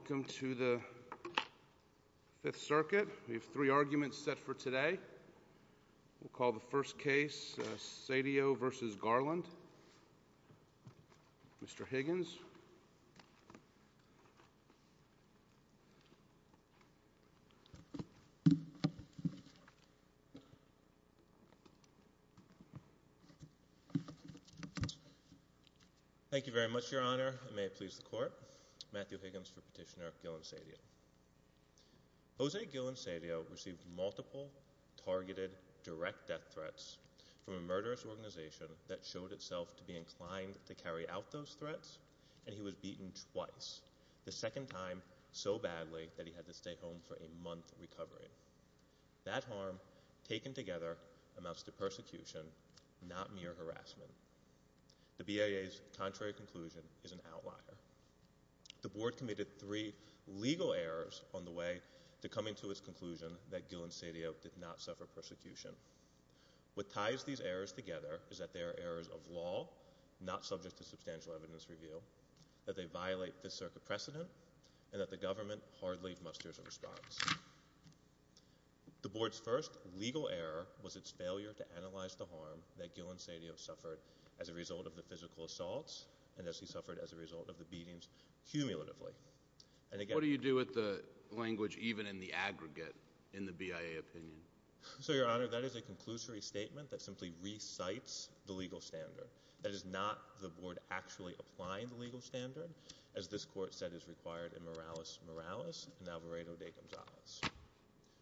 Welcome to the Fifth Circuit. We have three arguments set for today. We'll call the first case Cedio v. Garland. Mr. Higgins. Thank you very much, Your Honor. May it please the Court. Matthew Higgins for Petitioner Gillen Cedio. Jose Gillen Cedio received multiple targeted direct death threats from a murderous organization that showed itself to be inclined to carry out those threats, and he was beaten twice, the second time so badly that he had to stay home for a month recovering. That harm, taken together, amounts to persecution, not mere harassment. The BIA's contrary conclusion is an outlier. The Board committed three legal errors on the way to coming to its conclusion that Gillen Cedio did not suffer persecution. What ties these errors together is that they are errors of law, not subject to substantial evidence review, that they violate Fifth Circuit precedent, and that the government hardly musters a response. The Board's first legal error was its failure to analyze the harm that Gillen Cedio suffered as a result of the physical assaults, and as he suffered as a result of the beatings, cumulatively. What do you do with the language, even in the aggregate, in the BIA opinion? So, Your Honor, that is a conclusory statement that simply recites the legal standard. That is not the Board actually applying the legal standard, as this Court said is required in Morales Morales and Alvarado de Gonzalez.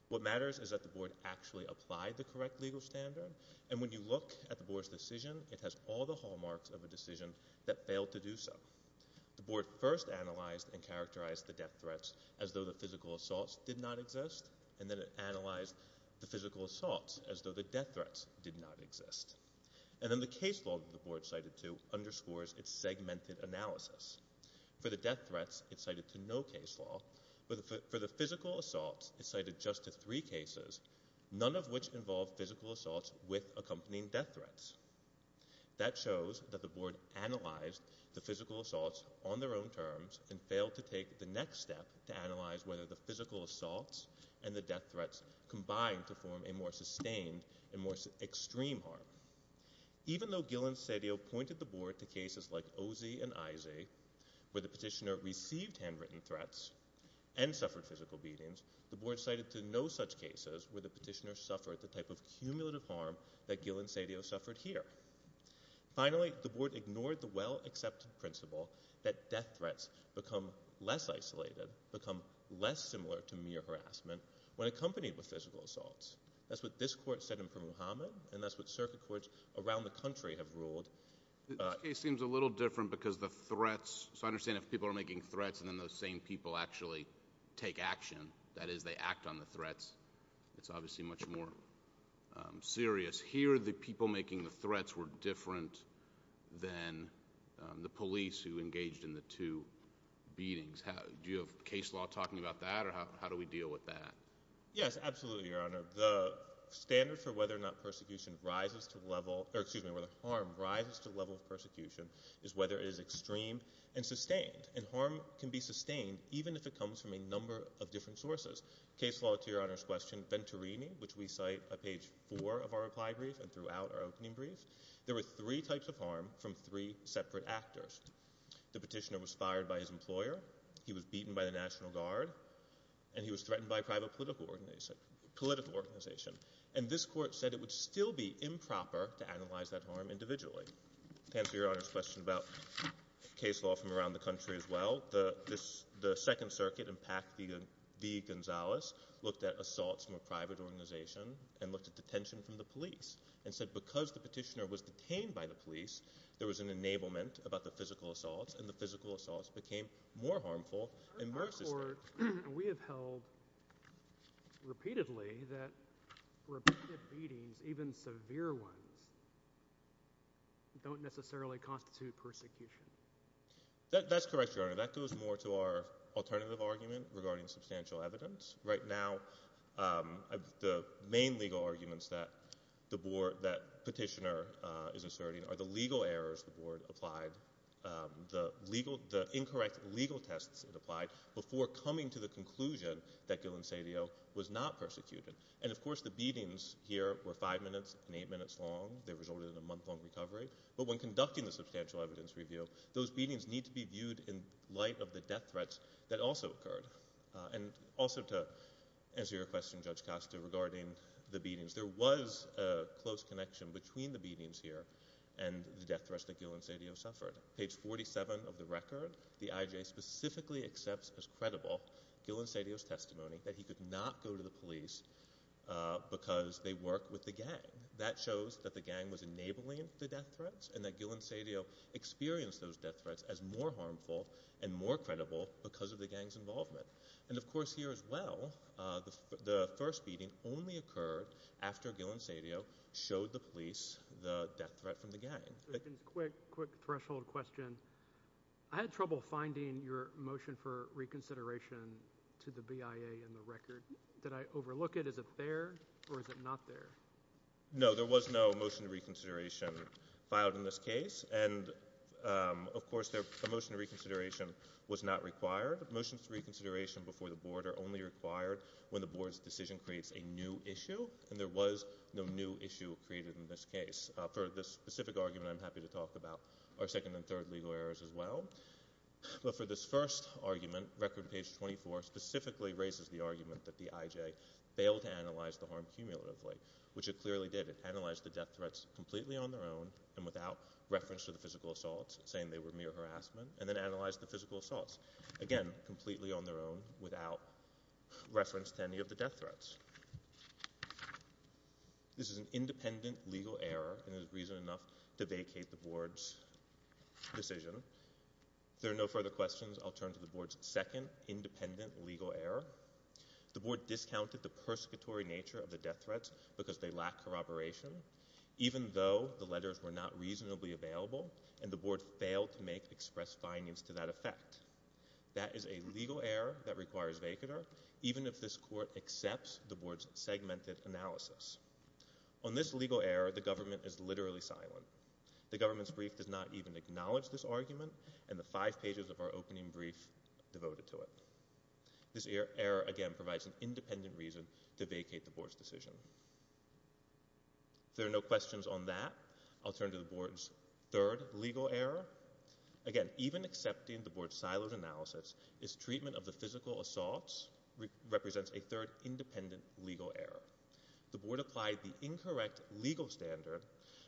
What matters is that the Board actually applied the correct legal standard, and when you look at the Board's decision, it has all the hallmarks of a decision that failed to do so. The Board first analyzed and characterized the death threats as though the physical assaults did not exist, and then it analyzed the physical assaults as though the death threats did not exist. And then the case law that the Board cited to underscores its segmented analysis. For the death threats, it cited to no case law, but for the physical assaults, it cited just to three cases, none of which involved physical assaults with accompanying death threats. That shows that the Board analyzed the physical assaults on their own terms, and failed to take the next step to analyze whether the physical assaults and the death threats combined to form a more sustained and more extreme harm. Even though Gil and Cedillo pointed the Board to cases like Ozy and Izy, where the petitioner received handwritten threats and suffered physical beatings, the petitioner suffered the type of cumulative harm that Gil and Cedillo suffered here. Finally, the Board ignored the well-accepted principle that death threats become less isolated, become less similar to mere harassment, when accompanied with physical assaults. That's what this court said in Permuhammad, and that's what circuit courts around the country have ruled. This case seems a little different because the threats, so I understand if people are making threats and then those same people actually take action, that is, they act on the threats, it's obviously much more serious. Here, the people making the threats were different than the police who engaged in the two beatings. Do you have case law talking about that, or how do we deal with that? Yes, absolutely, Your Honor. The standard for whether or not persecution rises to level – or excuse me, whether harm rises to the level of persecution is whether it is extreme and sustained. And harm can be sustained even if it comes from a number of different sources. Case law, to Your Honor's question, Venturini, which we cite on page four of our reply brief and throughout our opening brief, there were three types of harm from three separate actors. The petitioner was fired by his employer, he was beaten by the National Guard, and he was threatened by a private political organization. And this court said it would still be improper to analyze that harm individually. To answer Your Honor's question about case law from assaults from a private organization, and looked at detention from the police, and said because the petitioner was detained by the police, there was an enablement about the physical assaults, and the physical assaults became more harmful and more sustained. We have held repeatedly that repeated beatings, even severe ones, don't necessarily constitute persecution. That's correct, Your Honor. That goes more to our alternative argument regarding substantial evidence. Right now, the main legal arguments that the petitioner is asserting are the legal errors the board applied, the incorrect legal tests it applied, before coming to the conclusion that Gil Ancelio was not persecuted. And of course the beatings here were five minutes and eight minutes long. They resulted in a month-long recovery. But when conducting the substantial evidence review, those beatings need to be viewed in light of the death threats that also occurred. And also to answer your question, Judge Costa, regarding the beatings, there was a close connection between the beatings here and the death threats that Gil Ancelio suffered. Page 47 of the record, the IJA specifically accepts as credible Gil Ancelio's testimony that he could not go to the police because they work with the gang. That shows that the gang was enabling the death threats, and that Gil Ancelio experienced those death threats as more harmful and more credible because of the gang's involvement. And of course here as well, the first beating only occurred after Gil Ancelio showed the police the death threat from the gang. Just a quick, quick threshold question. I had trouble finding your motion for reconsideration to the BIA in the record. Did I overlook it? Is it there, or is it not there? No, there was no motion to reconsideration filed in this case. And of course, a motion to reconsideration was not required. Motions to reconsideration before the Board are only required when the Board's decision creates a new issue, and there was no new issue created in this case. For this specific argument, I'm happy to talk about our second and third legal errors as well. But for this first argument, record page 24 specifically raises the argument that the BIA, which it clearly did, analyzed the death threats completely on their own and without reference to the physical assaults, saying they were mere harassment, and then analyzed the physical assaults. Again, completely on their own, without reference to any of the death threats. This is an independent legal error and is reason enough to vacate the Board's decision. If there are no further questions, I'll turn to the Board's second independent legal error. The Board discounted the persecutory nature of the death threats because they lack corroboration, even though the letters were not reasonably available, and the Board failed to make express findings to that effect. That is a legal error that requires vacater, even if this Court accepts the Board's segmented analysis. On this legal error, the government is literally silent. The government's brief does not even acknowledge this argument, and the five pages of our opening brief devoted to it. This error, again, provides an independent reason to vacate the Board's decision. If there are no questions on that, I'll turn to the Board's third legal error. Again, even accepting the Board's siloed analysis, its treatment of the physical assaults represents a third independent legal error. The Board applied the incorrect legal standard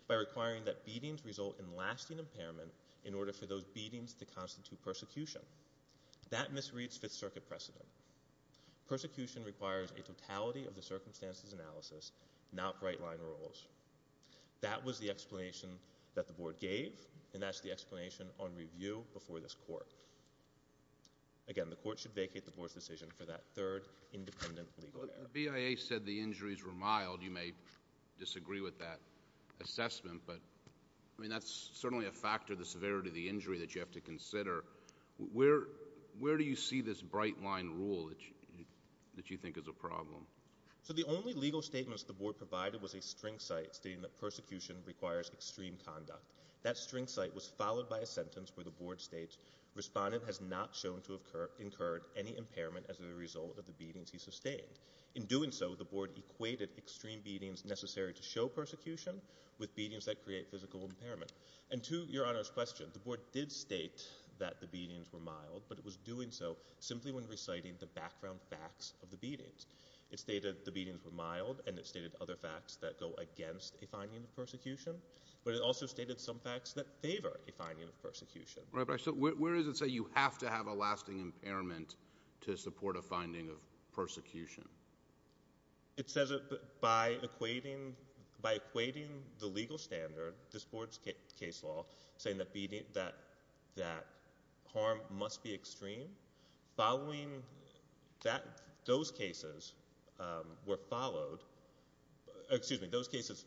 by requiring that beatings result in lasting impairment in order for those beatings to constitute persecution. That misreads Fifth Circuit precedent. Persecution requires a totality of the circumstances analysis, not right-line rules. That was the explanation that the Board gave, and that's the explanation on review before this Court. Again, the Court should vacate the Board's decision for that third independent legal error. The BIA said the injuries were mild. You may disagree with that assessment, but that's certainly a factor, the severity of the injury that you have to consider. Where do you see this bright-line rule that you think is a problem? The only legal statements the Board provided was a string cite stating that persecution requires extreme conduct. That string cite was followed by a sentence where the Board states, Respondent has not shown to have incurred any impairment as a result of the beatings he sustained. In doing so, the Board equated extreme beatings necessary to show persecution with beatings that create physical impairment. And to Your Honor's question, the Board did state that the beatings were mild, but it was doing so simply when reciting the background facts of the beatings. It stated the beatings were mild, and it stated other facts that go against a finding of persecution, but it also stated some facts that favor a finding of persecution. Where does it say you have to have a lasting impairment to support a finding of persecution? It says by equating the legal standard, this Board's case law, saying that harm must be extreme, those cases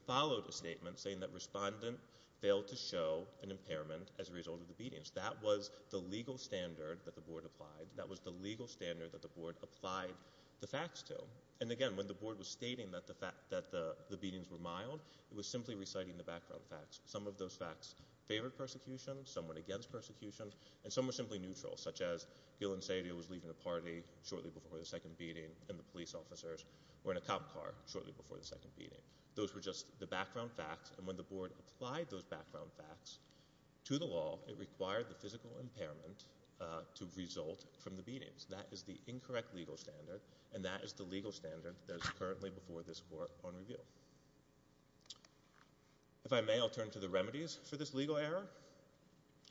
followed a statement saying that Respondent failed to show an impairment as a result of the beatings. That was the legal standard that the Board applied. That was what the Board applied to. And again, when the Board was stating that the beatings were mild, it was simply reciting the background facts. Some of those facts favored persecution, some went against persecution, and some were simply neutral, such as Gil Ancelio was leaving the party shortly before the second beating, and the police officers were in a cop car shortly before the second beating. Those were just the background facts, and when the Board applied those background facts to the law, it required the physical impairment to result from the beatings. That is the incorrect legal standard, and that is the legal standard that is currently before this Court on review. If I may, I'll turn to the remedies for this legal error.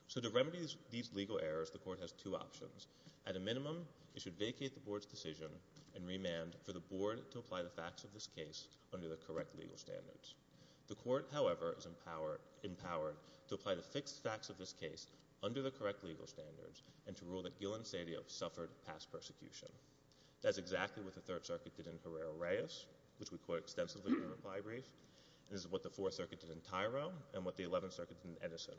So to remedy these legal errors, the Court has two options. At a minimum, it should vacate the Board's decision and remand for the Board to apply the facts of this case under the correct legal standards. The Court, however, is empowered to apply the fixed facts of this case under the correct legal standards and to rule that Gil Ancelio suffered past persecution. That is exactly what the Third Circuit did in Herrera-Reyes, which we quote extensively in the reply brief, and this is what the Fourth Circuit did in Tyro, and what the Eleventh Circuit did in Edison.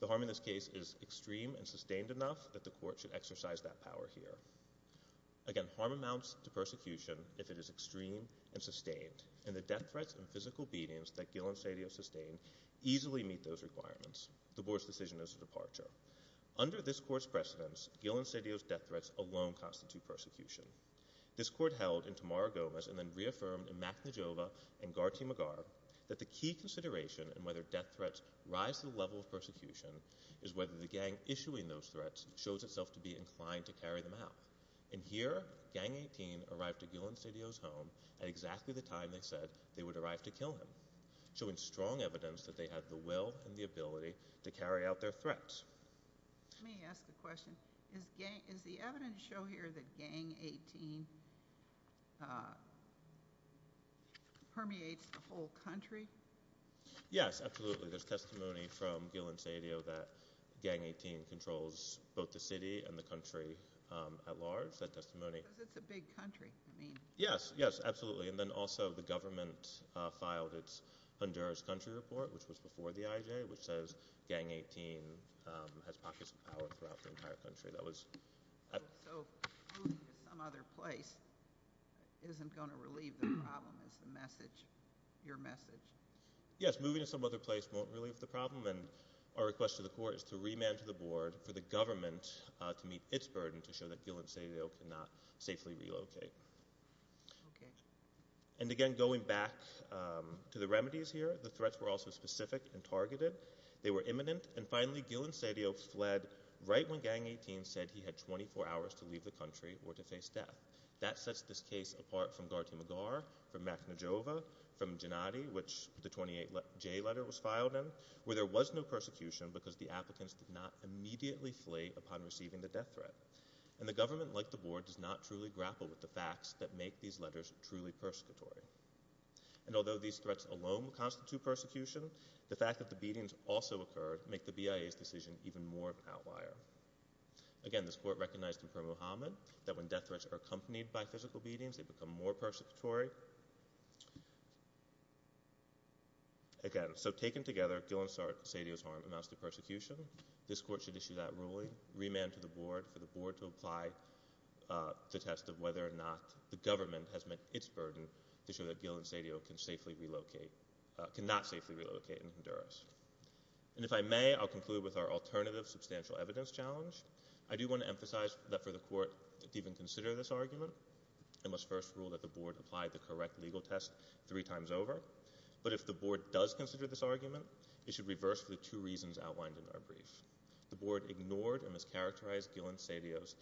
The harm in this case is extreme and sustained enough that the Court should exercise that power here. Again, harm amounts to persecution if it is extreme and sustained, and the death threats and physical beatings that Gil Ancelio sustained easily meet those requirements. The Board's decision is a departure. Under this Court's precedence, Gil Ancelio's death threats alone constitute persecution. This Court held in Tamara Gomez and then reaffirmed in Makhnojova and Garti Magar that the key consideration in whether death threats rise to the level of persecution is whether the gang issuing those threats shows itself to be inclined to carry them out. And here, Gang 18 arrived to Gil Ancelio's home at exactly the time they said they would arrive to kill him, showing strong evidence that they had the will and the ability to carry out their threats. Let me ask a question. Is the evidence shown here that Gang 18 permeates a whole country? Yes, absolutely. There's testimony from Gil Ancelio that Gang 18 controls both the city and the country at large. That testimony... Because it's a big country, I mean. Yes, yes, absolutely. And then also the government filed its Honduras Country Report, which was before the IJ, which says Gang 18 has pockets of power throughout the entire country. So moving to some other place isn't going to relieve the problem, is the message, your message? Yes, moving to some other place won't relieve the problem, and our request to the Court is to remand to the Board for the government to meet its burden to show that Gil Ancelio cannot safely relocate. Okay. And again, going back to the remedies here, the threats were also specific and targeted. They were imminent, and finally, Gil Ancelio fled right when Gang 18 said he had 24 hours to leave the country or to face death. That sets this case apart from Garty Magar, from Makhnojova, from Jannati, which the 28J letter was filed in, where there was no persecution because the applicants did not immediately flee upon receiving the death threat. And the government, like the Board, does not truly grapple with the facts that make these letters truly persecutory. And although these threats alone constitute persecution, the fact that the beatings also occurred make the BIA's decision even more of an outlier. Again, this Court recognized in Per Muhammad that when death threats are accompanied by physical beatings, they become more persecutory. Again, so taken together, Gil Ancelio's harm amounts to persecution. This Court should issue that ruling, remand to the Board, for the Board to apply the test of whether or not the government has met its burden to show that Gil Ancelio cannot safely relocate in Honduras. And if I may, I'll conclude with our alternative substantial evidence challenge. I do want to emphasize that for the Court to even consider this argument, it must first rule that the Board applied the correct legal test three times over. But if the Board does consider this argument, it should reverse the two reasons outlined in our brief. The Board ignored and mischaracterized Gil Ancelio's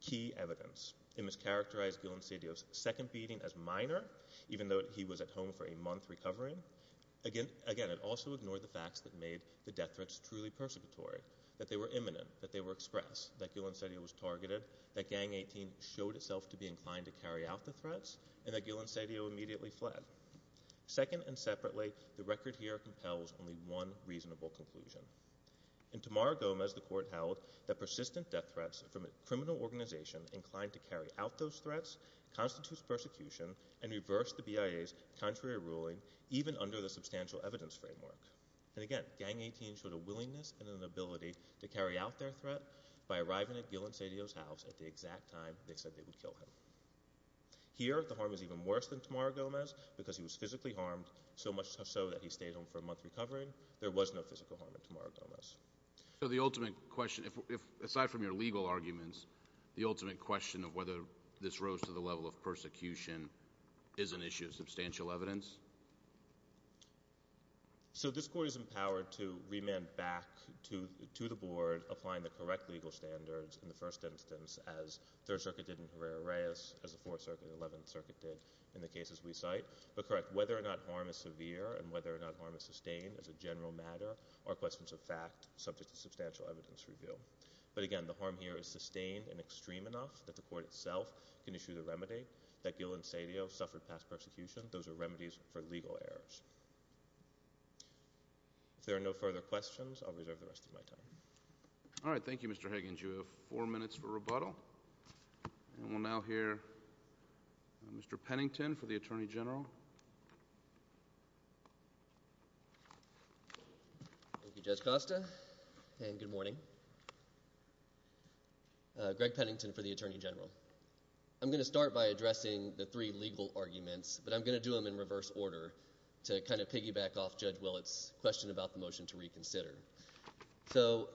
key evidence. It mischaracterized Gil Ancelio's second beating as minor, even though he was at home for a month recovering. Again, it also ignored the facts that made the death threats truly persecutory, that they were imminent, that they were express, that Gil Ancelio was targeted, that Gang 18 showed itself to be inclined to carry out the threats, and that Gil Ancelio immediately fled. Second and separately, the record here compels only one reasonable conclusion. In Tamara Gomez, the Court held that persistent death threats from a criminal organization inclined to carry out those threats constitutes persecution and reversed the BIA's contrary ruling, even under the substantial evidence framework. And again, Gang 18 showed a willingness and an ability to carry out their threat by arriving at Gil Ancelio's house at the exact time they said they would kill him. Here, the harm is even worse than Tamara Gomez because he was physically harmed, so much so that he stayed home for a month recovering. There was no physical harm in Tamara Gomez. So the ultimate question, aside from your legal arguments, the ultimate question of whether this rose to the level of persecution is an issue of substantial evidence? So this Court is empowered to remand back to the Board, applying the correct legal standards in the first instance as Third Circuit did in Herrera-Reyes, as the Fourth Circuit and Eleventh Circuit did in the cases we cite, but correct whether or not harm is severe and whether or not harm is sustained as a general matter are questions of fact subject to substantial evidence review. But again, the harm here is sustained and extreme enough that the Court itself can issue the remedy that Gil Ancelio suffered past persecution. Those are remedies for legal errors. All right, thank you, Mr. Higgins. You have four minutes for rebuttal. And we'll now hear Mr. Pennington for the Attorney General. Thank you, Judge Costa, and good morning. Greg Pennington for the Attorney General. I'm going to start by addressing the three legal arguments, but I'm going to do them in reverse order to kind of piggyback off Judge Willett's question about the motion to reconsider. So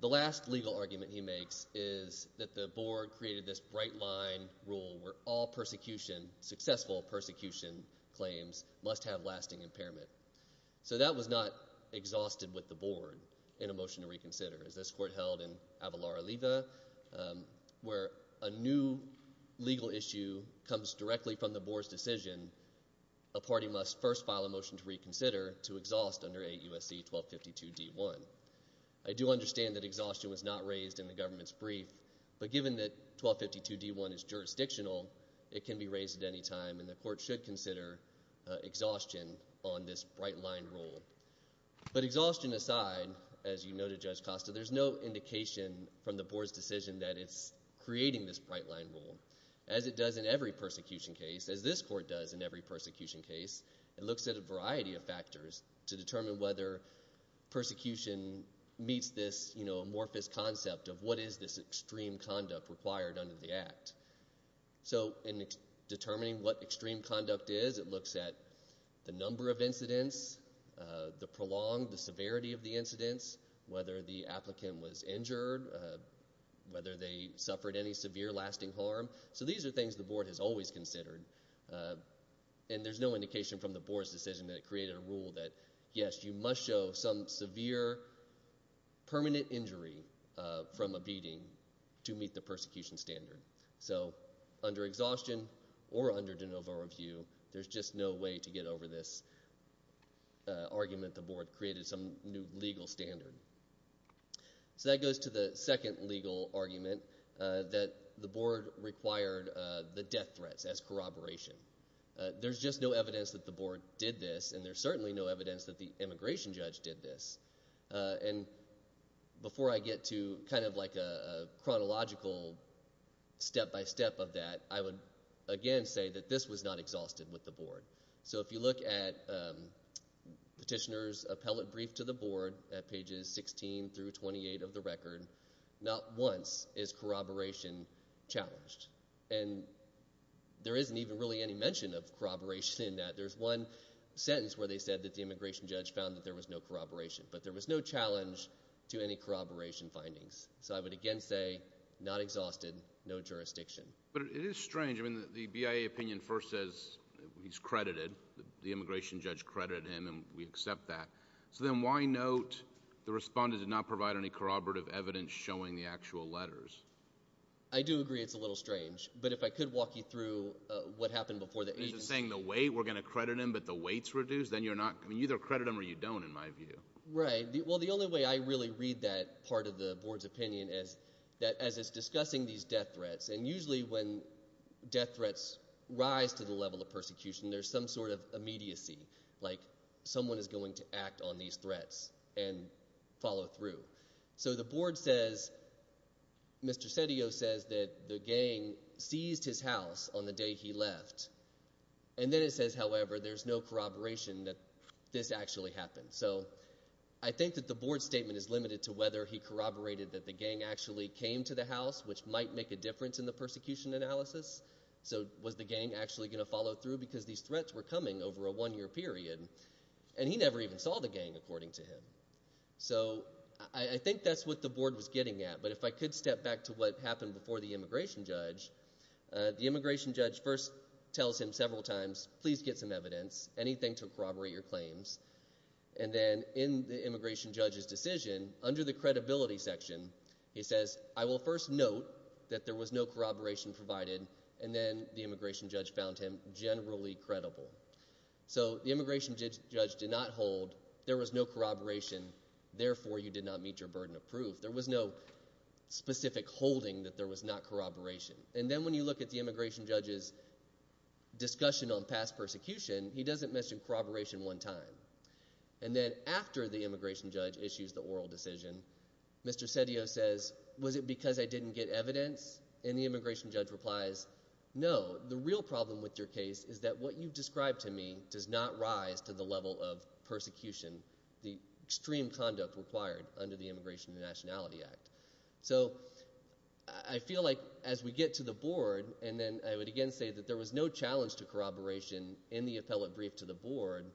the last legal argument he makes is that the Board created this bright-line rule where all successful persecution claims must have lasting impairment. So that was not exhausted with the Board in a motion to reconsider, as this Court held in Avalar-Oliva, where a new legal issue comes directly from the Board's decision, a party must first file a motion to reconsider to exhaust under 8 U.S.C. 1252 D.1. I do understand that exhaustion was not raised in the government's brief, but given that 1252 D.1 is jurisdictional, it can be raised at any time, and the Court should consider exhaustion on this bright-line rule. But exhaustion aside, as you noted, Judge Costa, there's no indication from the Board's decision that it's creating this bright-line rule, as it does in every persecution case, as this Court does in every persecution case. It looks at a variety of factors to determine whether persecution meets this amorphous concept of what is this extreme conduct required under the Act. So in determining what extreme conduct is, it looks at the number of incidents, the prolonged severity of the incidents, whether the applicant was injured, whether they suffered any severe lasting harm. So these are things the Board has always considered, and there's no indication from the Board's decision that it created a rule that, yes, you must show some severe permanent injury from a beating to meet the persecution standard. So under exhaustion or under de novo review, there's just no way to get over this argument the Board created some new legal standard. So that goes to the second legal argument, that the Board required the death threats as corroboration. There's just no evidence that the Board did this, and there's certainly no evidence that the immigration judge did this. And before I get to kind of like a chronological step-by-step of that, I would again say that this was not exhausted with the Board. So if you look at Petitioner's appellate brief to the Board at pages 16 through 28 of the record, not once is corroboration challenged. And there isn't even really any mention of corroboration in that. There's one sentence where they said that the immigration judge found that there was no corroboration, but there was no challenge to any corroboration findings. So I would again say, not exhausted, no jurisdiction. But it is strange. I mean, the BIA opinion first says he's credited. The immigration judge credited him, and we accept that. So then why note the respondent did not provide any corroborative evidence showing the actual letters? I do agree it's a little strange. But if I could walk you through what happened before the agency— Is it saying the weight, we're going to credit him, but the weight's reduced? Then you're not—I mean, you either credit him or you don't, in my view. Right. Well, the only way I really read that part of the Board's opinion is that as it's discussing these death threats, and usually when death threats rise to the level of persecution, there's some sort of immediacy, like someone is going to act on these threats and follow through. So the Board says—Mr. Sedillo says that the gang seized his house on the day he left. And then it says, however, there's no corroboration that this actually happened. So I think that the Board's statement is limited to whether he corroborated that the gang actually came to the house, which might make a difference in the persecution analysis. So was the gang actually going to follow through because these threats were coming over a one-year period? And he never even saw the gang, according to him. So I think that's what the Board was getting at. But if I could step back to what happened before the immigration judge, the immigration judge first tells him several times, please get some evidence, anything to corroborate your claims. And then in the immigration judge's decision, under the credibility section, he says, I will first note that there was no corroboration provided. And then the immigration judge found him generally credible. So the immigration judge did not hold there was no corroboration, therefore you did not meet your burden of proof. There was no specific holding that there was not corroboration. And then when you look at the immigration judge's discussion on past persecution, he doesn't mention corroboration one time. And then after the immigration judge issues the oral decision, Mr. Sedillo says, was it because I didn't get evidence? And the immigration judge replies, no, the real problem with your case is that what you've described to me does not rise to the level of persecution, the extreme conduct required under the Immigration and Nationality Act. So I feel like as we get to the Board, and then I would again say that there was no challenge to corroboration in the appellate brief to the Board,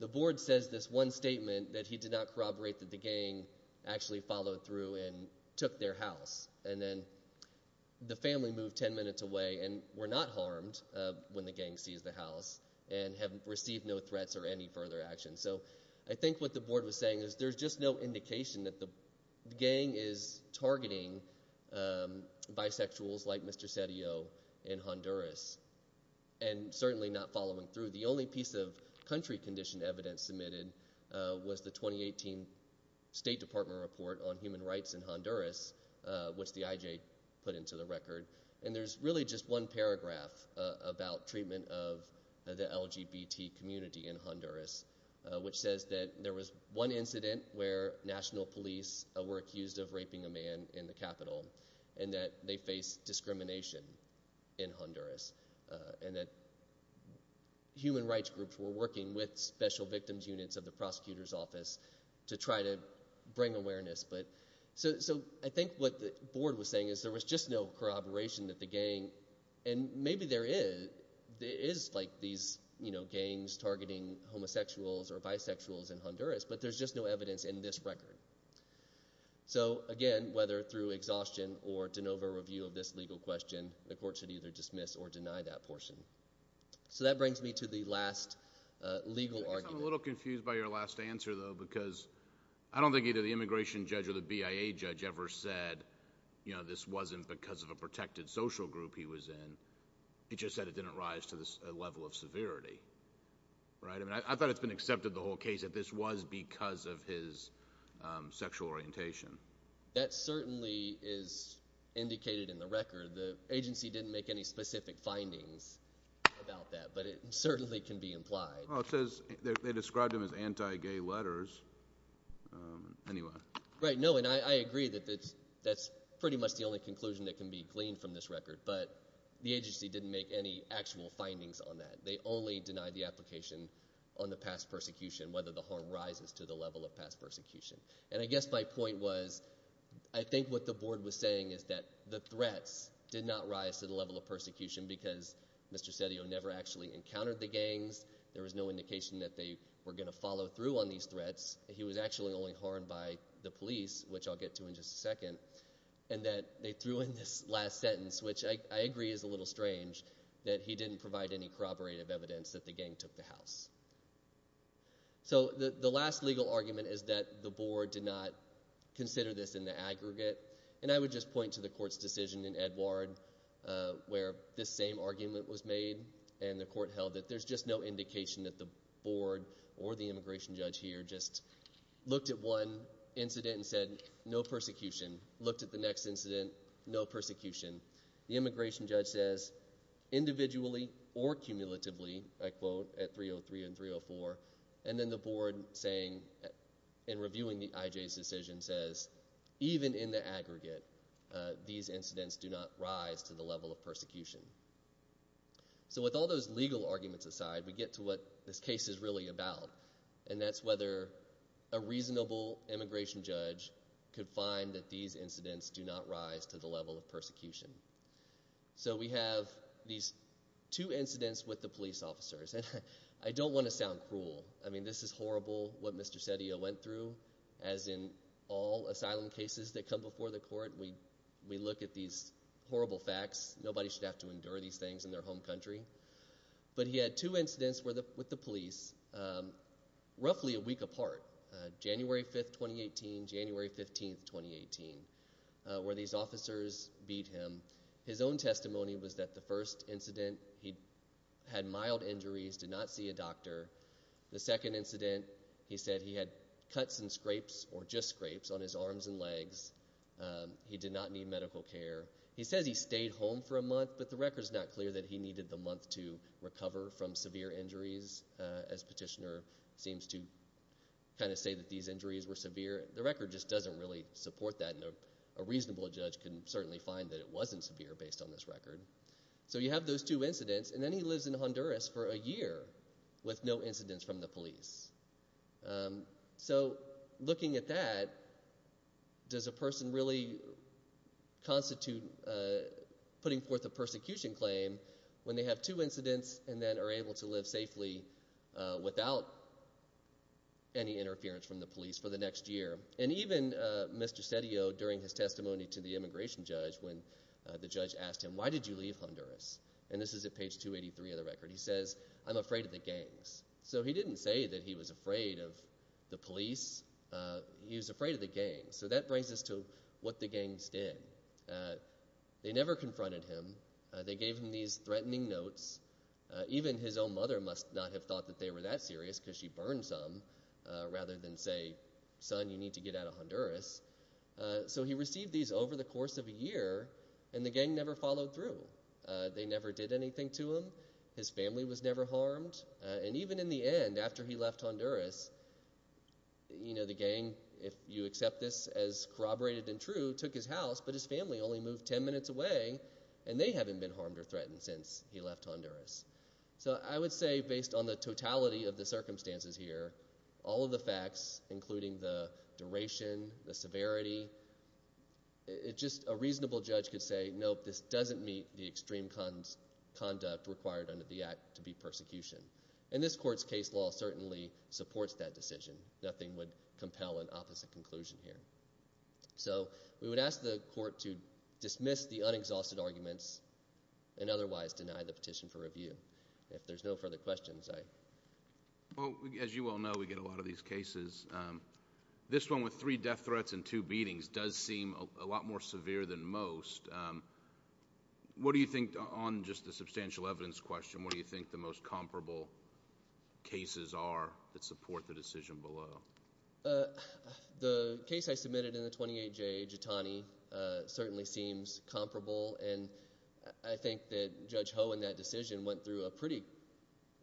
the Board says this one statement that he did not corroborate that the gang actually followed through and took their house. And then the family moved ten minutes away and were not harmed when the gang seized the house and have received no threats or any further action. So I think what the Board was saying is there's just no indication that the gang is targeting bisexuals like Mr. Sedillo in Honduras and certainly not following through. The only piece of country condition evidence submitted was the 2018 State Department report on human rights in Honduras, which the IJ put into the record. And there's really just one paragraph about treatment of the LGBT community in Honduras, which says that there was one incident where national police were accused of raping a man in the capital and that they faced discrimination in Honduras and that human rights groups were working with special victims units of the prosecutor's office to try to bring awareness. So I think what the Board was saying is there was just no corroboration that the gang, and maybe there is like these gangs targeting homosexuals or bisexuals in Honduras, but there's just no evidence in this record. So again, whether through exhaustion or de novo review of this legal question, the court should either dismiss or deny that portion. So that brings me to the last legal argument. I'm a little confused by your last answer, though, because I don't think either the immigration judge or the BIA judge ever said this wasn't because of a protected social group he was in. He just said it didn't rise to this level of severity. I mean, I thought it's been accepted the whole case that this was because of his sexual orientation. That certainly is indicated in the record. The agency didn't make any specific findings about that, but it certainly can be implied. Well, it says they described him as anti-gay letters anyway. Right, no, and I agree that that's pretty much the only conclusion that can be gleaned from this record, but the agency didn't make any actual findings on that. They only denied the application on the past persecution, whether the harm rises to the level of past persecution. And I guess my point was I think what the board was saying is that the threats did not rise to the level of persecution because Mr. Sedillo never actually encountered the gangs. There was no indication that they were going to follow through on these threats. He was actually only harmed by the police, which I'll get to in just a second, and that they threw in this last sentence, which I agree is a little strange, that he didn't provide any corroborative evidence that the gang took the house. So the last legal argument is that the board did not consider this in the aggregate, and I would just point to the court's decision in Edward where this same argument was made, and the court held that there's just no indication that the board or the immigration judge here just looked at one incident and said no persecution, looked at the next incident, no persecution. The immigration judge says individually or cumulatively, I quote, at 303 and 304, and then the board saying in reviewing the IJ's decision says even in the aggregate, these incidents do not rise to the level of persecution. So with all those legal arguments aside, we get to what this case is really about, and that's whether a reasonable immigration judge could find that these incidents do not rise to the level of persecution. So we have these two incidents with the police officers, and I don't want to sound cruel. I mean this is horrible what Mr. Sedillo went through. As in all asylum cases that come before the court, we look at these horrible facts. Nobody should have to endure these things in their home country. But he had two incidents with the police roughly a week apart, January 5, 2018, January 15, 2018, where these officers beat him. His own testimony was that the first incident he had mild injuries, did not see a doctor. The second incident he said he had cuts and scrapes or just scrapes on his arms and legs. He did not need medical care. He says he stayed home for a month, but the record is not clear that he needed the month to recover from severe injuries, as Petitioner seems to kind of say that these injuries were severe. The record just doesn't really support that. A reasonable judge can certainly find that it wasn't severe based on this record. So you have those two incidents, and then he lives in Honduras for a year with no incidents from the police. So looking at that, does a person really constitute putting forth a persecution claim when they have two incidents and then are able to live safely without any interference from the police for the next year? And even Mr. Cedillo during his testimony to the immigration judge when the judge asked him, why did you leave Honduras? And this is at page 283 of the record. He says, I'm afraid of the gangs. So he didn't say that he was afraid of the police. He was afraid of the gangs. So that brings us to what the gangs did. They never confronted him. They gave him these threatening notes. Even his own mother must not have thought that they were that serious because she burned some rather than say, son, you need to get out of Honduras. So he received these over the course of a year, and the gang never followed through. They never did anything to him. His family was never harmed. And even in the end, after he left Honduras, you know, the gang, if you accept this as corroborated and true, took his house, but his family only moved ten minutes away, and they haven't been harmed or threatened since he left Honduras. So I would say based on the totality of the circumstances here, all of the facts, including the duration, the severity, just a reasonable judge could say, nope, this doesn't meet the extreme conduct required under the act to be persecution. And this Court's case law certainly supports that decision. Nothing would compel an opposite conclusion here. So we would ask the Court to dismiss the unexhausted arguments and otherwise deny the petition for review. If there's no further questions, I – Well, as you all know, we get a lot of these cases. This one with three death threats and two beatings does seem a lot more severe than most. What do you think, on just the substantial evidence question, what do you think the most comparable cases are that support the decision below? The case I submitted in the 28J, Jitani, certainly seems comparable, and I think that Judge Ho in that decision went through a pretty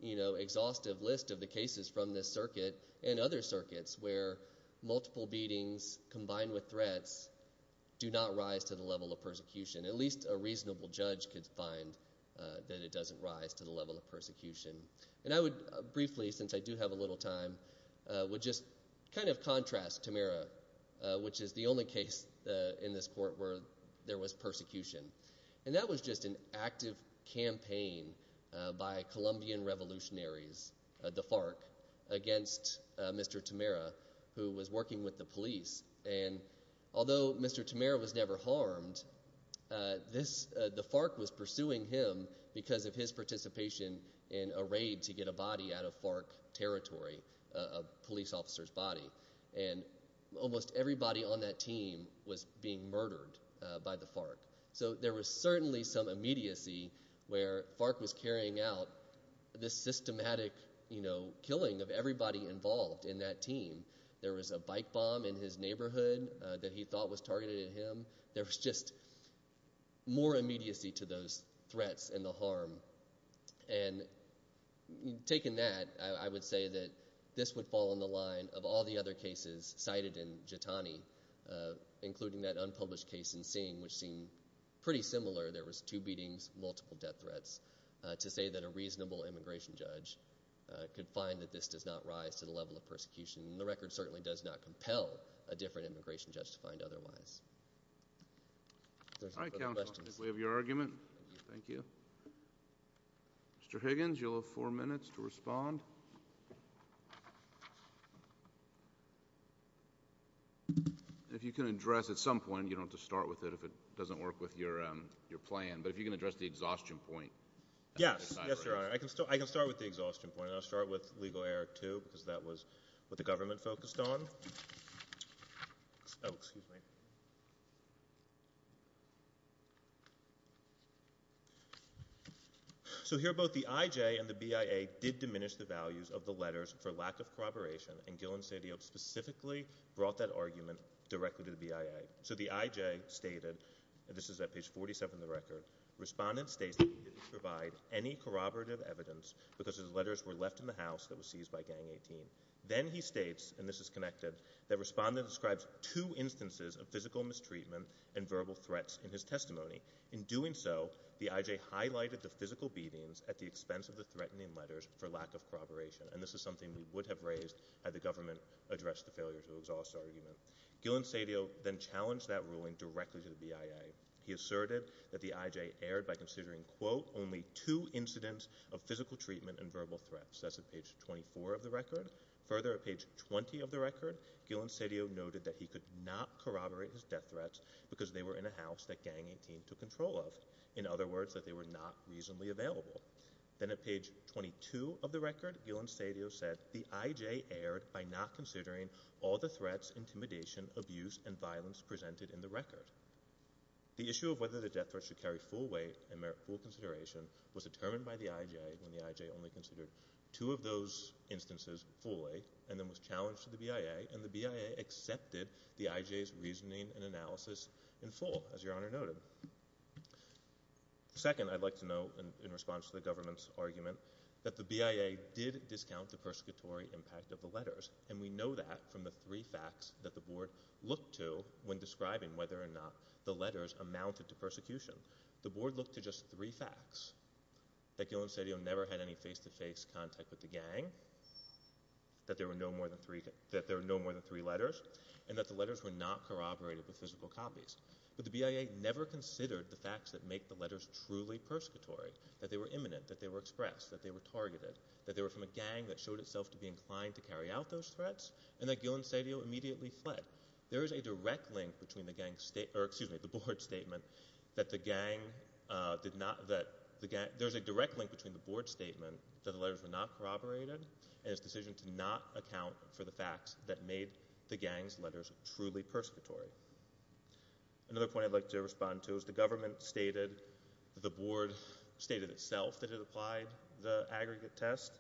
exhaustive list of the cases from this circuit and other circuits, where multiple beatings combined with threats do not rise to the level of persecution. At least a reasonable judge could find that it doesn't rise to the level of persecution. And I would briefly, since I do have a little time, would just kind of contrast Tamera, which is the only case in this Court where there was persecution. And that was just an active campaign by Colombian revolutionaries, the FARC, against Mr. Tamera, who was working with the police. And although Mr. Tamera was never harmed, the FARC was pursuing him because of his participation in a raid to get a body out of FARC territory, a police officer's body. And almost everybody on that team was being murdered by the FARC. So there was certainly some immediacy where FARC was carrying out this systematic killing of everybody involved in that team. There was a bike bomb in his neighborhood that he thought was targeted at him. There was just more immediacy to those threats and the harm. And taking that, I would say that this would fall on the line of all the other cases cited in Jitani, including that unpublished case in Sing, which seemed pretty similar. There was two beatings, multiple death threats, to say that a reasonable immigration judge could find that this does not rise to the level of persecution. And the record certainly does not compel a different immigration judge to find otherwise. All right, counsel, I think we have your argument. Thank you. Mr. Higgins, you'll have four minutes to respond. If you can address at some point, you don't have to start with it if it doesn't work with your plan, but if you can address the exhaustion point. Yes, yes, Your Honor. I can start with the exhaustion point. I'll start with legal error two because that was what the government focused on. Oh, excuse me. So here, both the IJ and the BIA did diminish the values of the letters for lack of corroboration, and Gill and Sadio specifically brought that argument directly to the BIA. So the IJ stated, and this is at page 47 of the record, Respondent states that he didn't provide any corroborative evidence because his letters were left in the house that was seized by Gang 18. Then he states, and this is connected, that Respondent describes two instances of physical mistreatment and verbal threats in his testimony. In doing so, the IJ highlighted the physical beatings at the expense of the threatening letters for lack of corroboration, and this is something we would have raised had the government addressed the failure to exhaust argument. Gill and Sadio then challenged that ruling directly to the BIA. He asserted that the IJ erred by considering, quote, only two incidents of physical treatment and verbal threats. That's at page 24 of the record. Further, at page 20 of the record, Gill and Sadio noted that he could not corroborate his death threats because they were in a house that Gang 18 took control of, in other words, that they were not reasonably available. Then at page 22 of the record, Gill and Sadio said, The IJ erred by not considering all the threats, intimidation, abuse, and violence presented in the record. The issue of whether the death threats should carry full weight and merit full consideration was determined by the IJ when the IJ only considered two of those instances fully and then was challenged to the BIA, and the BIA accepted the IJ's reasoning and analysis in full, as Your Honor noted. Second, I'd like to note, in response to the government's argument, that the BIA did discount the persecutory impact of the letters, and we know that from the three facts that the Board looked to when describing whether or not the letters amounted to persecution. The Board looked to just three facts, that Gill and Sadio never had any face-to-face contact with the gang, that there were no more than three letters, and that the letters were not corroborated with physical copies. But the BIA never considered the facts that make the letters truly persecutory, that they were imminent, that they were expressed, that they were targeted, that they were from a gang that showed itself to be inclined to carry out those threats, and that Gill and Sadio immediately fled. There is a direct link between the Board's statement that the letters were not corroborated and its decision to not account for the facts that made the gang's letters truly persecutory. Another point I'd like to respond to is the government stated that the Board stated itself that it applied the aggregate test.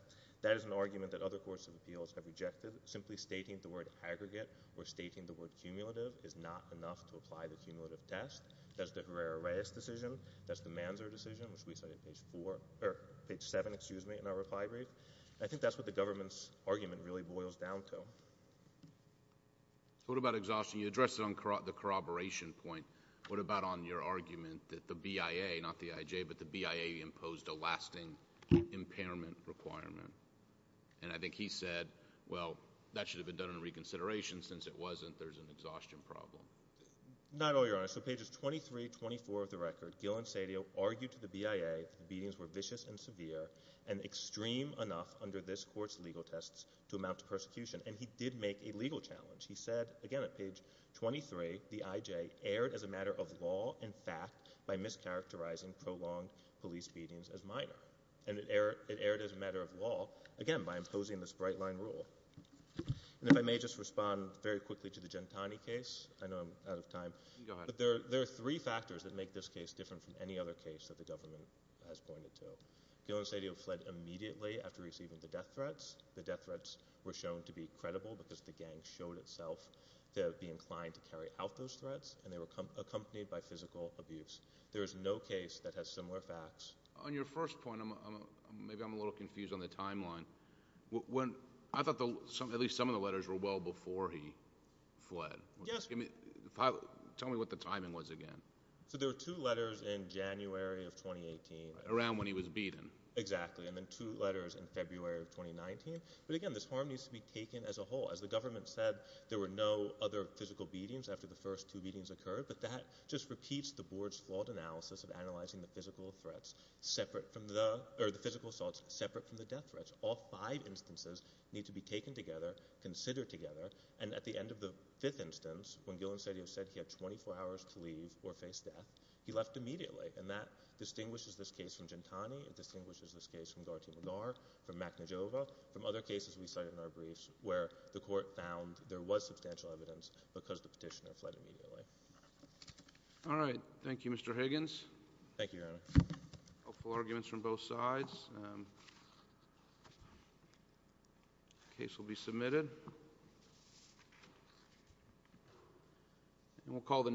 That is an argument that other courts of appeals have rejected, simply stating the word aggregate or stating the word cumulative is not enough to apply the cumulative test. That's the Herrera-Reyes decision. That's the Manzer decision, which we cite on page four, or page seven, excuse me, in our reply brief. I think that's what the government's argument really boils down to. So what about exhaustion? You addressed it on the corroboration point. What about on your argument that the BIA, not the IJ, but the BIA imposed a lasting impairment requirement? And I think he said, well, that should have been done in reconsideration. Since it wasn't, there's an exhaustion problem. Not all, Your Honor. So pages 23 and 24 of the record, Gill and Sadio argued to the BIA that the beatings were vicious and severe and extreme enough under this Court's legal tests to amount to persecution, and he did make a legal challenge. He said, again at page 23, the IJ erred as a matter of law and fact by mischaracterizing prolonged police beatings as minor. And it erred as a matter of law, again, by imposing this bright-line rule. And if I may just respond very quickly to the Gentani case. I know I'm out of time. Go ahead. But there are three factors that make this case different from any other case that the government has pointed to. Gill and Sadio fled immediately after receiving the death threats. The death threats were shown to be credible because the gang showed itself to be inclined to carry out those threats, and they were accompanied by physical abuse. There is no case that has similar facts. On your first point, maybe I'm a little confused on the timeline. I thought at least some of the letters were well before he fled. Yes. Tell me what the timing was again. So there were two letters in January of 2018. Around when he was beaten. Exactly. And then two letters in February of 2019. But, again, this harm needs to be taken as a whole. As the government said, there were no other physical beatings after the first two beatings occurred, but that just repeats the board's flawed analysis of analyzing the physical assaults separate from the death threats. All five instances need to be taken together, considered together, and at the end of the fifth instance, when Gill and Sadio said he had 24 hours to leave or face death, he left immediately. And that distinguishes this case from Gentani. It distinguishes this case from Gharti Magar, from Makhnojova, from other cases we cite in our briefs where the court found there was substantial evidence because the petitioner fled immediately. All right. Thank you, Mr. Higgins. Thank you, Your Honor. Hopeful arguments from both sides. Case will be submitted. And we'll call the—